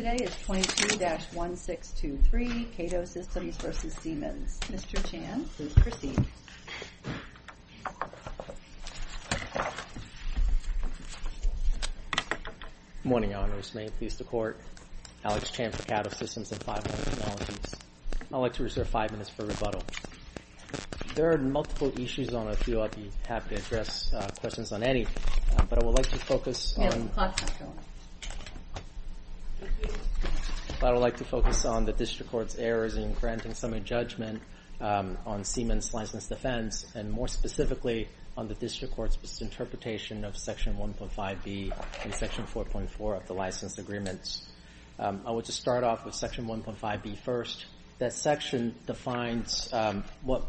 Today is 22-1623, Caddo Systems v. Siemens. Mr. Chan, please proceed. Good morning, Your Honors. May it please the Court, Alex Chan for Caddo Systems and 500 Technologies. I'd like to reserve five minutes for rebuttal. There are multiple issues on the field I'd be happy to address, questions on any, but I would like to focus on... I would like to focus on the District Court's errors in granting summary judgment on Siemens' license defense, and more specifically, on the District Court's misinterpretation of Section 1.5b and Section 4.4 of the license agreements. I would just start off with Section 1.5b first. That section defines what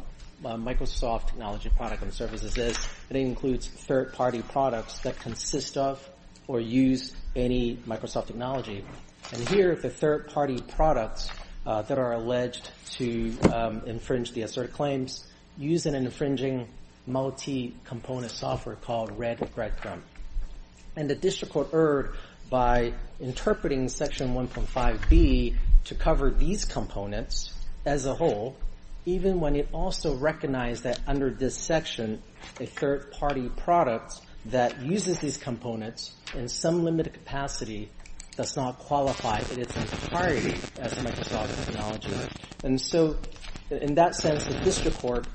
a Microsoft technology product and services is. It includes third-party products that consist of or use any Microsoft technology. And here, the third-party products that are alleged to infringe the asserted claims use an infringing multi-component software called Red Record. And the District Court erred by interpreting Section 1.5b to cover these components as a whole, even when it also recognized that under this section, a third-party product that uses these components in some limited capacity does not qualify in its entirety as a Microsoft technology. And so, in that sense, the District Court's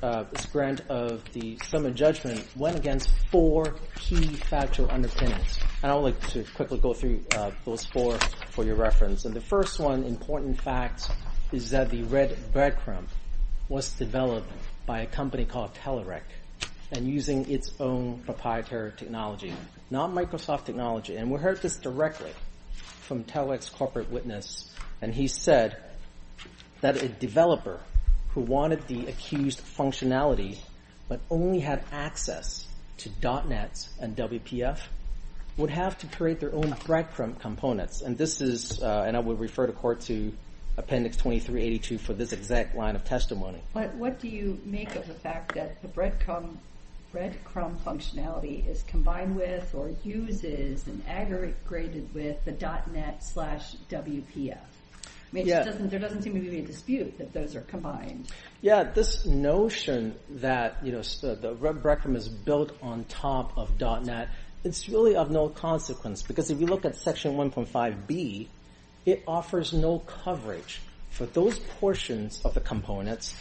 grant of the summary judgment went against four key factual underpinnings. I would like to quickly go through those four for your reference. And the first one, important facts, is that the Red Breadcrumb was developed by a company called Telerik and using its own proprietary technology, not Microsoft technology. And we heard this directly from Telerik's corporate witness. And he said that a developer who wanted the accused functionality but only had access to .NET and WPF would have to create their own breadcrumb components. And this is – and I would refer the Court to Appendix 2382 for this exact line of testimony. But what do you make of the fact that the breadcrumb functionality is combined with or uses and aggregated with the .NET slash WPF? I mean, there doesn't seem to be a dispute that those are combined. Yeah, this notion that the breadcrumb is built on top of .NET, it's really of no consequence. Because if you look at Section 1.5b, it offers no coverage for those portions of the components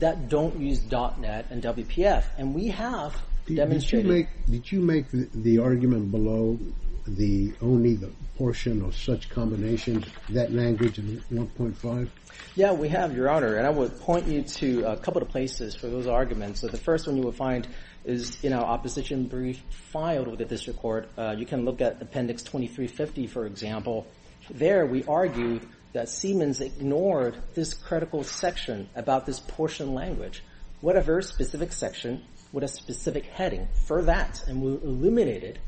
that don't use .NET and WPF. And we have demonstrated it. Did you make the argument below the only the portion of such combinations, that language in 1.5? Yeah, we have, Your Honor. And I would point you to a couple of places for those arguments. So the first one you will find is in our opposition brief filed with the District Court. You can look at Appendix 2350, for example. There we argued that Siemens ignored this critical section about this portion language. What other specific section would have specific heading for that? And we eliminated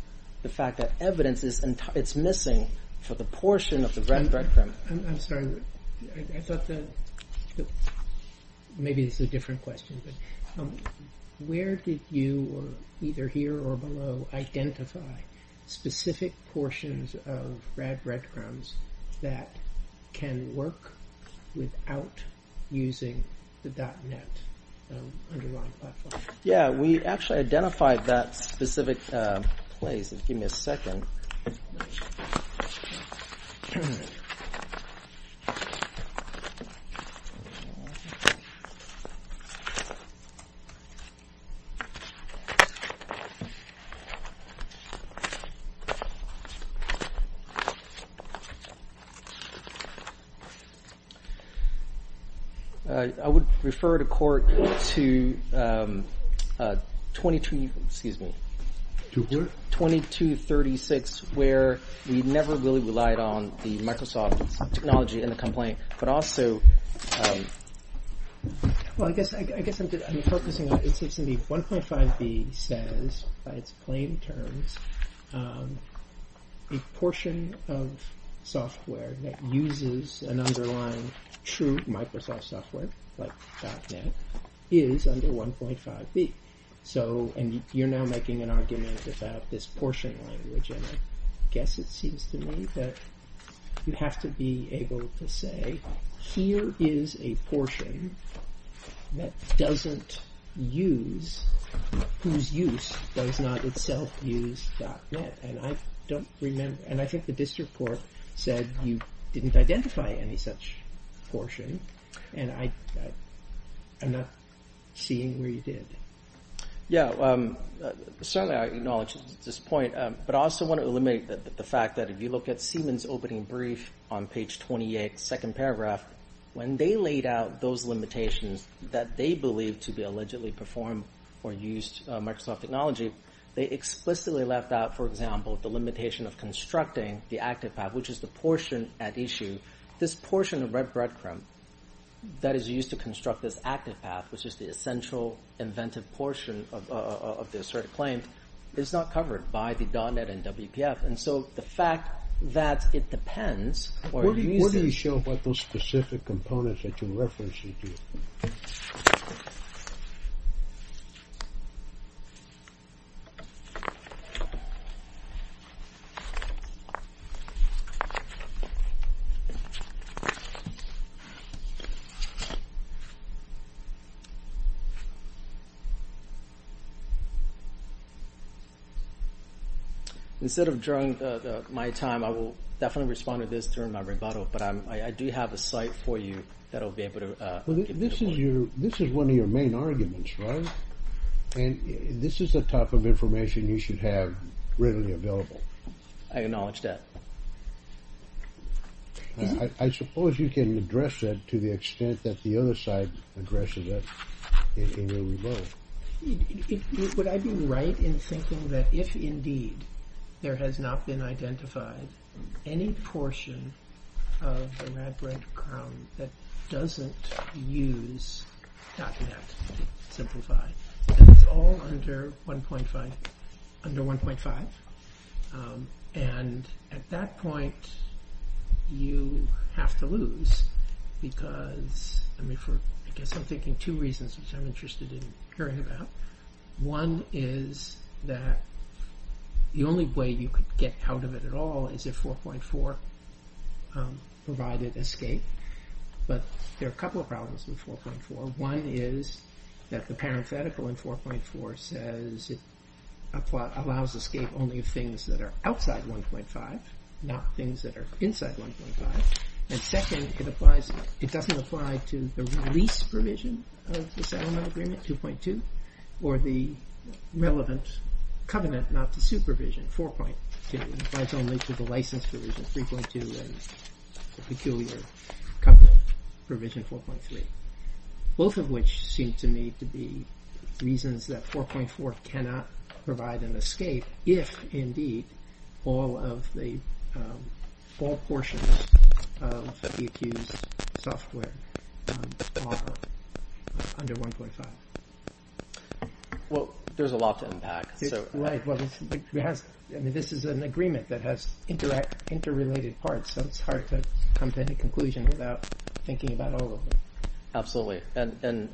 the fact that evidence is missing for the portion of the breadcrumb. I'm sorry, I thought that maybe this is a different question. But where did you, either here or below, identify specific portions of red breadcrumbs that can work without using the .NET underlying platform? Yeah, we actually identified that specific place. Give me a second. I would refer the court to 2236, where we never really relied on the Microsoft. Technology in the complaint, but also... Well, I guess I'm focusing on, it seems to me, 1.5B says, by its plain terms, a portion of software that uses an underlying true Microsoft software, like .NET, is under 1.5B. So, and you're now making an argument about this portion language. And I guess it seems to me that you have to be able to say, here is a portion that doesn't use, whose use does not itself use .NET. And I don't remember, and I think the district court said you didn't identify any such portion. And I'm not seeing where you did. Yeah, certainly I acknowledge this point. But I also want to eliminate the fact that if you look at Siemens' opening brief on page 28, second paragraph, when they laid out those limitations that they believed to be allegedly performed or used Microsoft technology, they explicitly left out, for example, the limitation of constructing the active path, which is the portion at issue. This portion of Red Bread Crumb that is used to construct this active path, which is the essential inventive portion of this sort of claim, is not covered by the .NET and WPF. And so the fact that it depends or it uses… Instead of drawing my time, I will definitely respond to this during my rebuttal. But I do have a site for you that will be able to… This is one of your main arguments, right? And this is the type of information you should have readily available. I acknowledge that. I suppose you can address that to the extent that the other side addresses it in your rebuttal. Would I be right in thinking that if indeed there has not been identified any portion of the Red Bread Crumb that doesn't use .NET, and it's all under 1.5, and at that point you have to lose because… I guess I'm thinking two reasons which I'm interested in hearing about. One is that the only way you could get out of it at all is if 4.4 provided escape. But there are a couple of problems with 4.4. One is that the parenthetical in 4.4 says it allows escape only of things that are outside 1.5, not things that are inside 1.5. And second, it doesn't apply to the release provision of the settlement agreement, 2.2, or the relevant covenant not to sue provision, 4.2. It applies only to the license provision, 3.2, and peculiar covenant provision, 4.3. Both of which seem to me to be reasons that 4.4 cannot provide an escape if indeed all portions of the accused software are under 1.5. Well, there's a lot to unpack. This is an agreement that has interrelated parts, so it's hard to come to any conclusion without thinking about all of them. Absolutely, and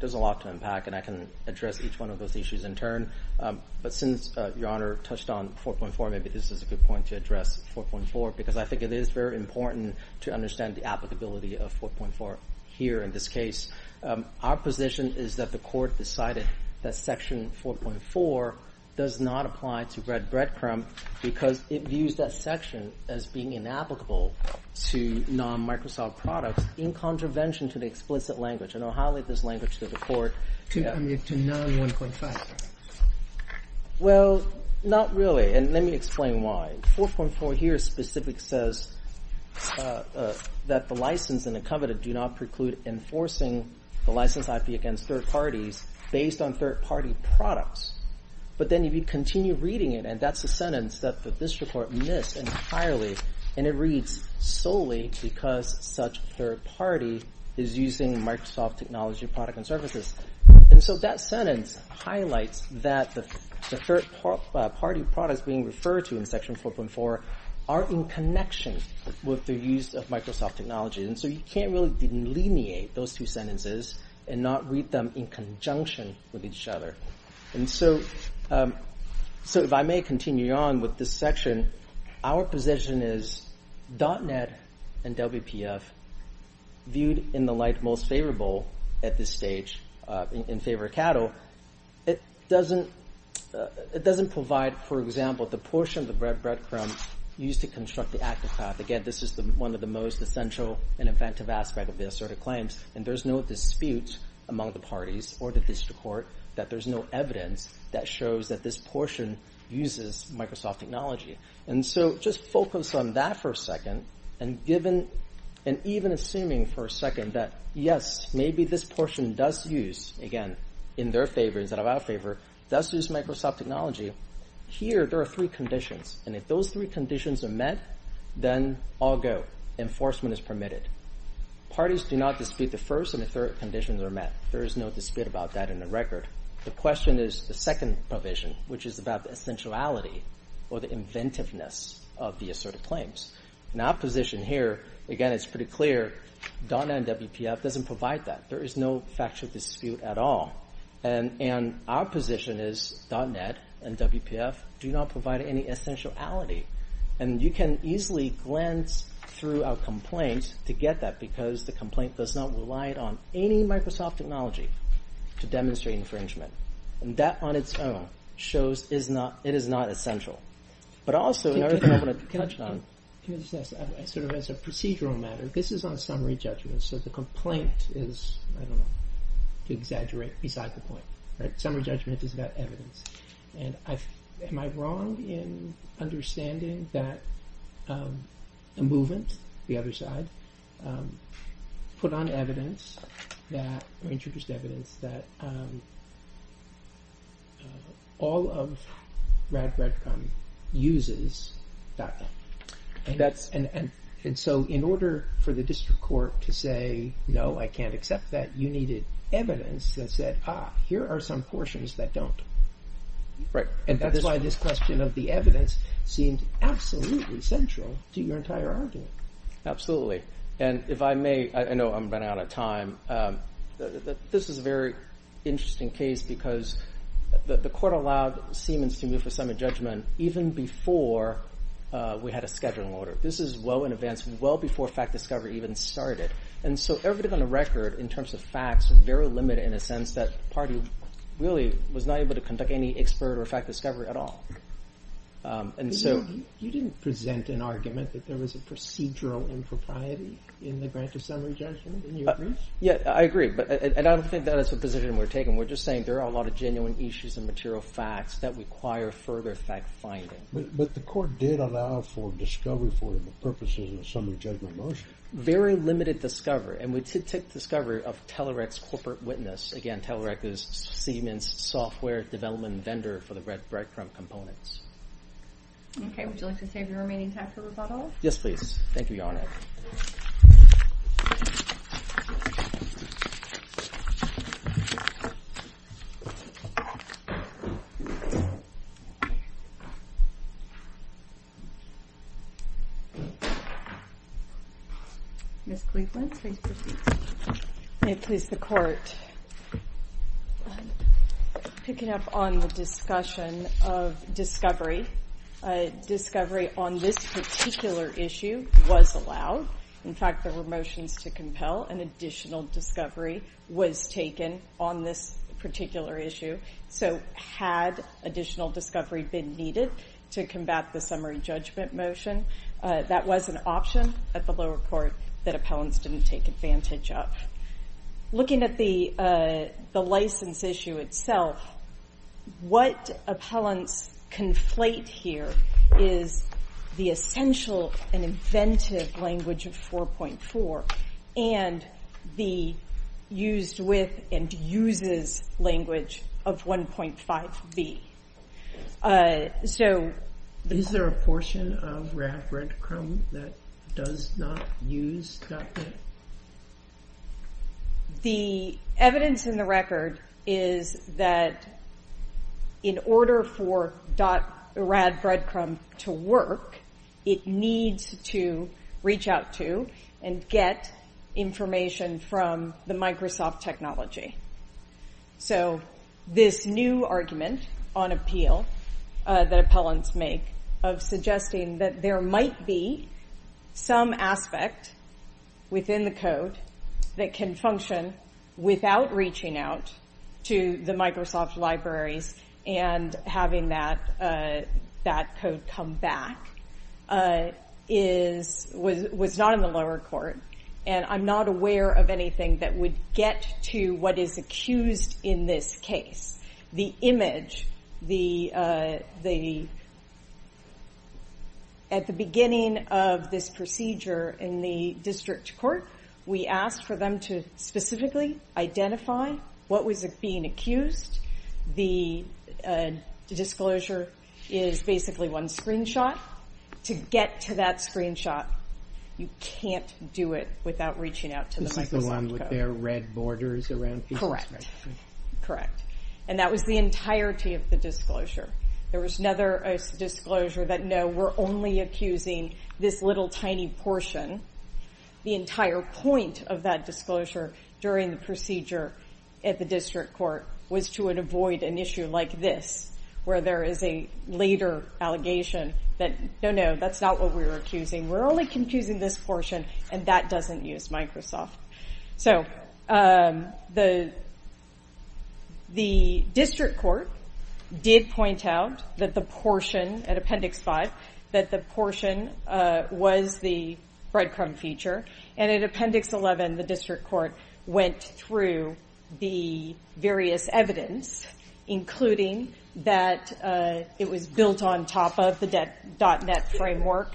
there's a lot to unpack, and I can address each one of those issues in turn. But since Your Honor touched on 4.4, maybe this is a good point to address 4.4, because I think it is very important to understand the applicability of 4.4 here in this case. Our position is that the Court decided that Section 4.4 does not apply to Red Bread Crumb because it views that section as being inapplicable to non-Microsoft products in contravention to the explicit language. And I'll highlight this language to the Court. To non-1.5. Well, not really, and let me explain why. 4.4 here specifically says that the license and the covenant do not preclude enforcing the license IP against third parties based on third-party products. But then if you continue reading it, and that's a sentence that the District Court missed entirely, and it reads, solely because such third party is using Microsoft technology product and services. And so that sentence highlights that the third-party products being referred to in Section 4.4 are in connection with the use of Microsoft technology. And so you can't really delineate those two sentences and not read them in conjunction with each other. And so if I may continue on with this section, our position is .NET and WPF viewed in the light most favorable at this stage in favor of cattle. It doesn't provide, for example, the portion of the Red Bread Crumb used to construct the active path. Again, this is one of the most essential and inventive aspects of these sort of claims, and there's no dispute among the parties or the District Court that there's no evidence that shows that this portion uses Microsoft technology. And so just focus on that for a second, and even assuming for a second that, yes, maybe this portion does use, again, in their favor instead of our favor, does use Microsoft technology. Here, there are three conditions, and if those three conditions are met, then I'll go. Enforcement is permitted. Parties do not dispute the first and the third conditions are met. There is no dispute about that in the record. The question is the second provision, which is about the essentiality or the inventiveness of these sort of claims. In our position here, again, it's pretty clear .NET and WPF doesn't provide that. There is no factual dispute at all, and our position is .NET and WPF do not provide any essentiality. And you can easily glance through our complaint to get that because the complaint does not rely on any Microsoft technology to demonstrate infringement, and that on its own shows it is not essential. But also, in order for me to touch on- Can I just ask, sort of as a procedural matter, this is on summary judgment, so the complaint is, I don't know, to exaggerate beside the point, right? Summary judgment is about evidence, and am I wrong in understanding that a movement, the other side, put on evidence, or introduced evidence, that all of RADREDCOM uses .NET? And so in order for the district court to say, no, I can't accept that, you needed evidence that said, ah, here are some portions that don't. Right. And that's why this question of the evidence seemed absolutely central to your entire argument. Absolutely. And if I may, I know I'm running out of time, this is a very interesting case because the court allowed Siemens to move for summary judgment even before we had a scheduling order. This is well in advance, well before fact discovery even started. And so everything on the record, in terms of facts, was very limited in the sense that the party really was not able to conduct any expert or fact discovery at all. You didn't present an argument that there was a procedural impropriety in the grant of summary judgment, in your briefs? Yeah, I agree, and I don't think that is the position we're taking. We're just saying there are a lot of genuine issues and material facts that require further fact finding. But the court did allow for discovery for the purposes of the summary judgment motion. Very limited discovery, and we did take discovery of Telerec's corporate witness. Again, Telerec is Siemens' software development vendor for the breadcrumb components. Okay, would you like to save your remaining time for rebuttal? Yes, please. Thank you, Your Honor. Ms. Cleveland, please proceed. May it please the Court. Picking up on the discussion of discovery, discovery on this particular issue was allowed. In fact, there were motions to compel an additional discovery was taken on this particular issue. So had additional discovery been needed to combat the summary judgment motion, that was an option at the lower court that appellants didn't take advantage of. Looking at the license issue itself, what appellants conflate here is the essential and inventive language of 4.4 and the used with and uses language of 1.5b. Is there a portion of RAD Breadcrumb that does not use .NET? The evidence in the record is that in order for RAD Breadcrumb to work, it needs to reach out to and get information from the Microsoft technology. So this new argument on appeal that appellants make of suggesting that there might be some aspect within the code that can function without reaching out to the Microsoft libraries and having that code come back was not in the lower court. I'm not aware of anything that would get to what is accused in this case. At the beginning of this procedure in the district court, we asked for them to specifically identify what was being accused. The disclosure is basically one screenshot. If you want to get to that screenshot, you can't do it without reaching out to the Microsoft code. And that was the entirety of the disclosure. There was another disclosure that no, we're only accusing this little tiny portion. The entire point of that disclosure during the procedure at the district court was to avoid an issue like this, where there is a later allegation that no, no, that's not what we're accusing. We're only accusing this portion, and that doesn't use Microsoft. The district court did point out that the portion at Appendix 5 was the breadcrumb feature. And at Appendix 11, the district court went through the various evidence, including that it was built on top of the .NET framework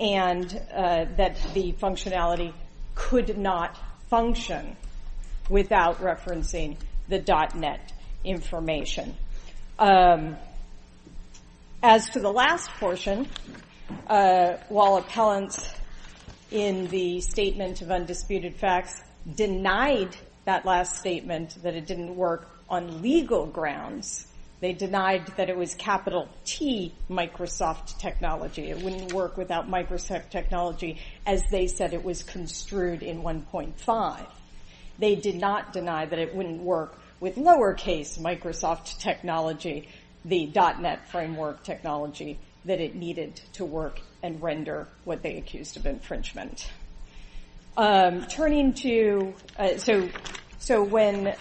and that the functionality could not function without referencing the .NET information. As for the last portion, while appellants in the Statement of Undisputed Facts denied that last statement that it didn't work on legal grounds, they denied that it was capital T Microsoft technology. It wouldn't work without Microsoft technology, as they said it was construed in 1.5. They did not deny that it wouldn't work with lowercase Microsoft technology, the .NET framework technology, that it needed to work and render what they accused of infringement. So when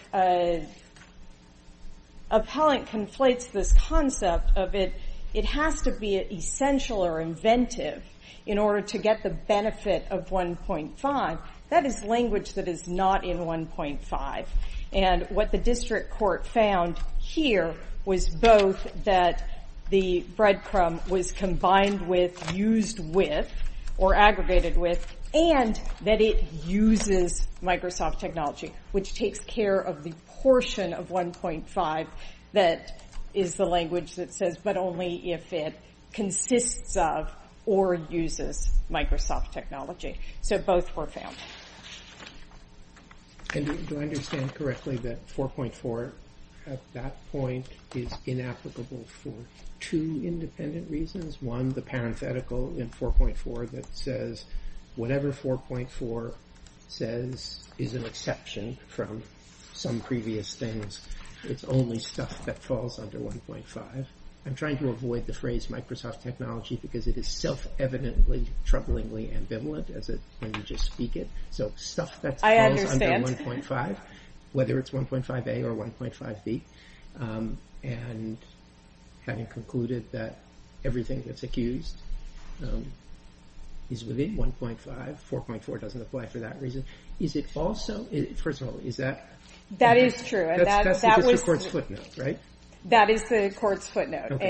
appellant conflates this concept of it, it has to be essential or inventive in order to get the benefit of 1.5. That is language that is not in 1.5. And what the district court found here was both that the breadcrumb was combined with, used with, or aggregated with, and that it uses Microsoft technology, which takes care of the portion of 1.5 that is the language that says, but only if it consists of or uses Microsoft technology. So both were found. Do I understand correctly that 4.4 at that point is inapplicable for two independent reasons? One, the parenthetical in 4.4 that says whatever 4.4 says is an exception from some previous things. It's only stuff that falls under 1.5. I'm trying to avoid the phrase Microsoft technology because it is self-evidently troublingly ambivalent when you just speak it. So stuff that falls under 1.5, whether it's 1.5a or 1.5b, and having concluded that everything that's accused is within 1.5, 4.4 doesn't apply for that reason. Is it also, first of all, is that... That is true. That's because the court's footnote, right? That is the court's footnote.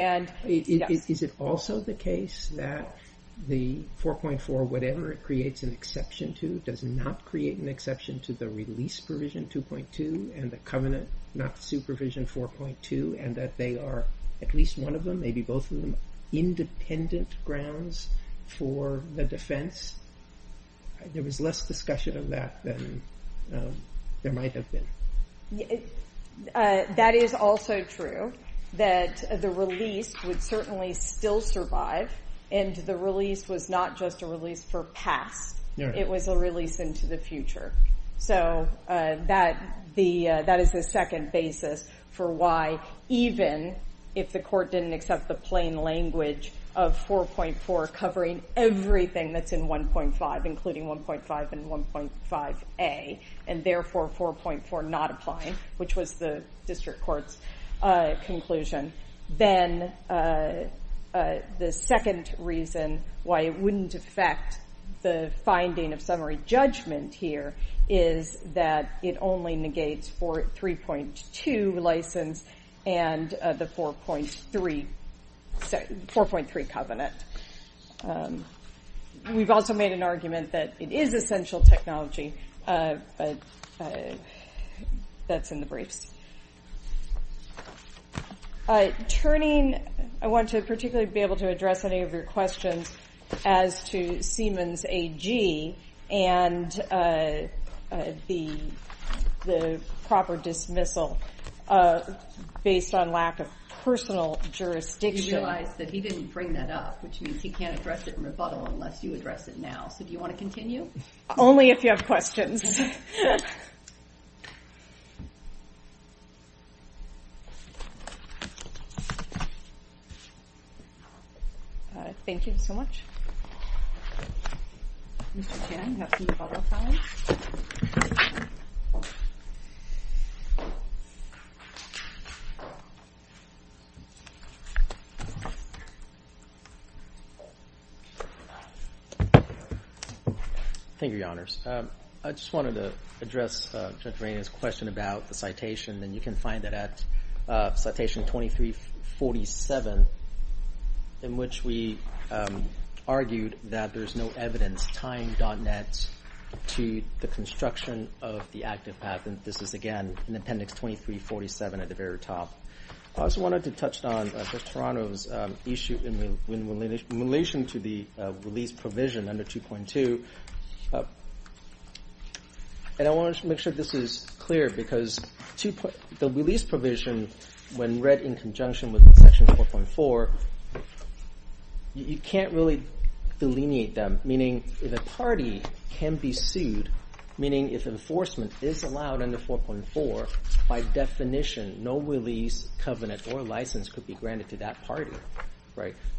Is it also the case that the 4.4, whatever it creates an exception to, does not create an exception to the release provision 2.2 and the covenant, not supervision 4.2, and that they are, at least one of them, maybe both of them, independent grounds for the defense? There was less discussion of that than there might have been. That is also true, that the release would certainly still survive, and the release was not just a release for past. It was a release into the future. So that is the second basis for why, even if the court didn't accept the plain language of 4.4 covering everything that's in 1.5, and therefore 4.4 not applying, which was the district court's conclusion, then the second reason why it wouldn't affect the finding of summary judgment here is that it only negates 3.2 license and the 4.3 covenant. We've also made an argument that it is essential technology, but that's in the briefs. Turning, I want to particularly be able to address any of your questions as to Seaman's AG and the proper dismissal based on lack of personal jurisdiction. He realized that he didn't bring that up, which means he can't address it in rebuttal unless you address it now. So do you want to continue? Only if you have questions. Thank you so much. Mr. Chan, you have some rebuttal time. Thank you, Your Honors. I just wanted to address Judge Rainier's question about the citation, and you can find it at citation 2347, in which we argued that there's no evidence, time.net, to the construction of the active patent. This is, again, in Appendix 2347 at the very top. I also wanted to touch on Judge Toronto's issue in relation to the release provision under 2.2. And I want to make sure this is clear, because the release provision, when read in conjunction with Section 4.4, you can't really delineate them, meaning if a party can be sued, meaning if enforcement is allowed under 4.4, by definition, no release, covenant, or license could be granted to that party.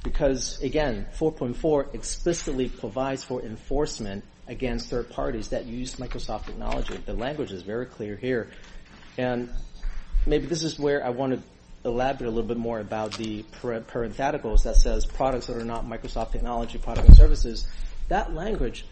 Because, again, 4.4 explicitly provides for enforcement against third parties that use Microsoft technology. The language is very clear here. And maybe this is where I want to elaborate a little bit more about the parentheticals that says, products that are not Microsoft technology, products and services. That language,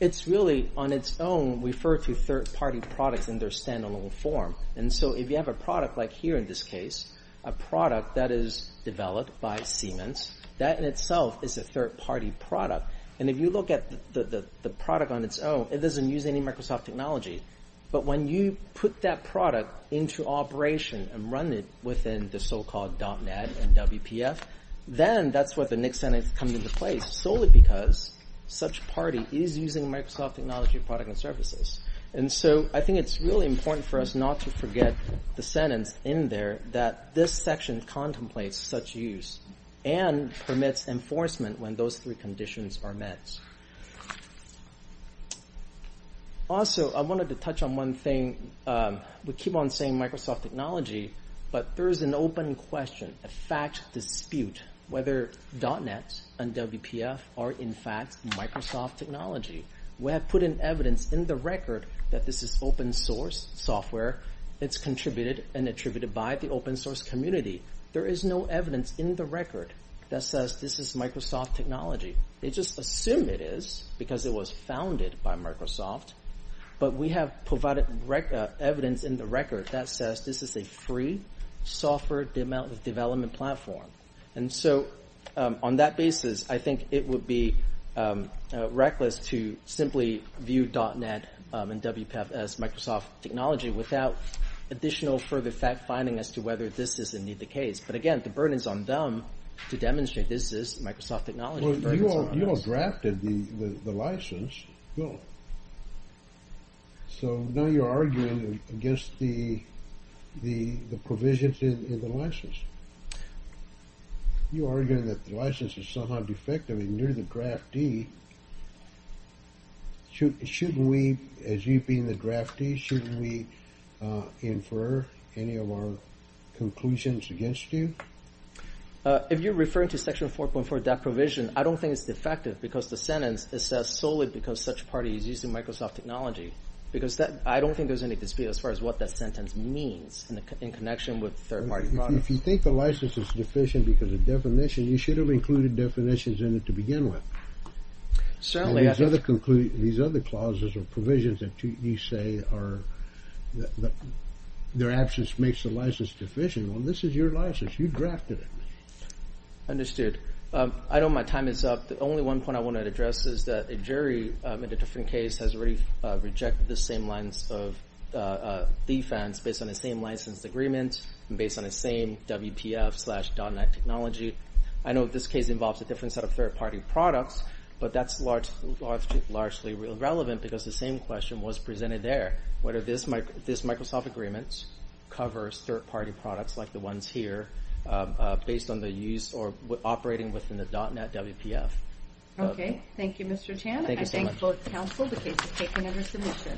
it's really on its own referred to third-party products in their standalone form. And so if you have a product like here in this case, a product that is developed by Siemens, that in itself is a third-party product. And if you look at the product on its own, it doesn't use any Microsoft technology. But when you put that product into operation and run it within the so-called .net and WPF, then that's where the next sentence comes into play, solely because such party is using Microsoft technology, product, and services. And so I think it's really important for us not to forget the sentence in there that this section contemplates such use and permits enforcement when those three conditions are met. Also, I wanted to touch on one thing. We keep on saying Microsoft technology, but there is an open question, a fact dispute, whether .net and WPF are in fact Microsoft technology. We have put in evidence in the record that this is open-source software. It's contributed and attributed by the open-source community. There is no evidence in the record that says this is Microsoft technology. They just assume it is because it was founded by Microsoft. But we have provided evidence in the record that says this is a free software development platform. And so on that basis, I think it would be reckless to simply view .net and WPF as Microsoft technology without additional further fact-finding as to whether this is indeed the case. But again, the burden is on them to demonstrate this is Microsoft technology. You all drafted the license bill, so now you're arguing against the provisions in the license. You're arguing that the license is somehow defective and you're the draftee. Shouldn't we, as you being the draftee, shouldn't we infer any of our conclusions against you? If you're referring to Section 4.4, that provision, I don't think it's defective because the sentence says solely because such party is using Microsoft technology. Because I don't think there's any dispute as far as what that sentence means in connection with third-party products. If you think the license is deficient because of definition, you should have included definitions in it to begin with. These other clauses or provisions that you say their absence makes the license deficient, well, this is your license. You drafted it. Understood. I know my time is up. The only one point I want to address is that a jury in a different case has already rejected the same lines of defense based on the same license agreement and based on the same WPF slash .net technology. I know this case involves a different set of third-party products, but that's largely irrelevant because the same question was presented there, whether this Microsoft agreement covers third-party products like the ones here based on the use or operating within the .net WPF. Okay. Thank you, Mr. Chan. Thank you so much. I thank both counsel. The case is taken under submission.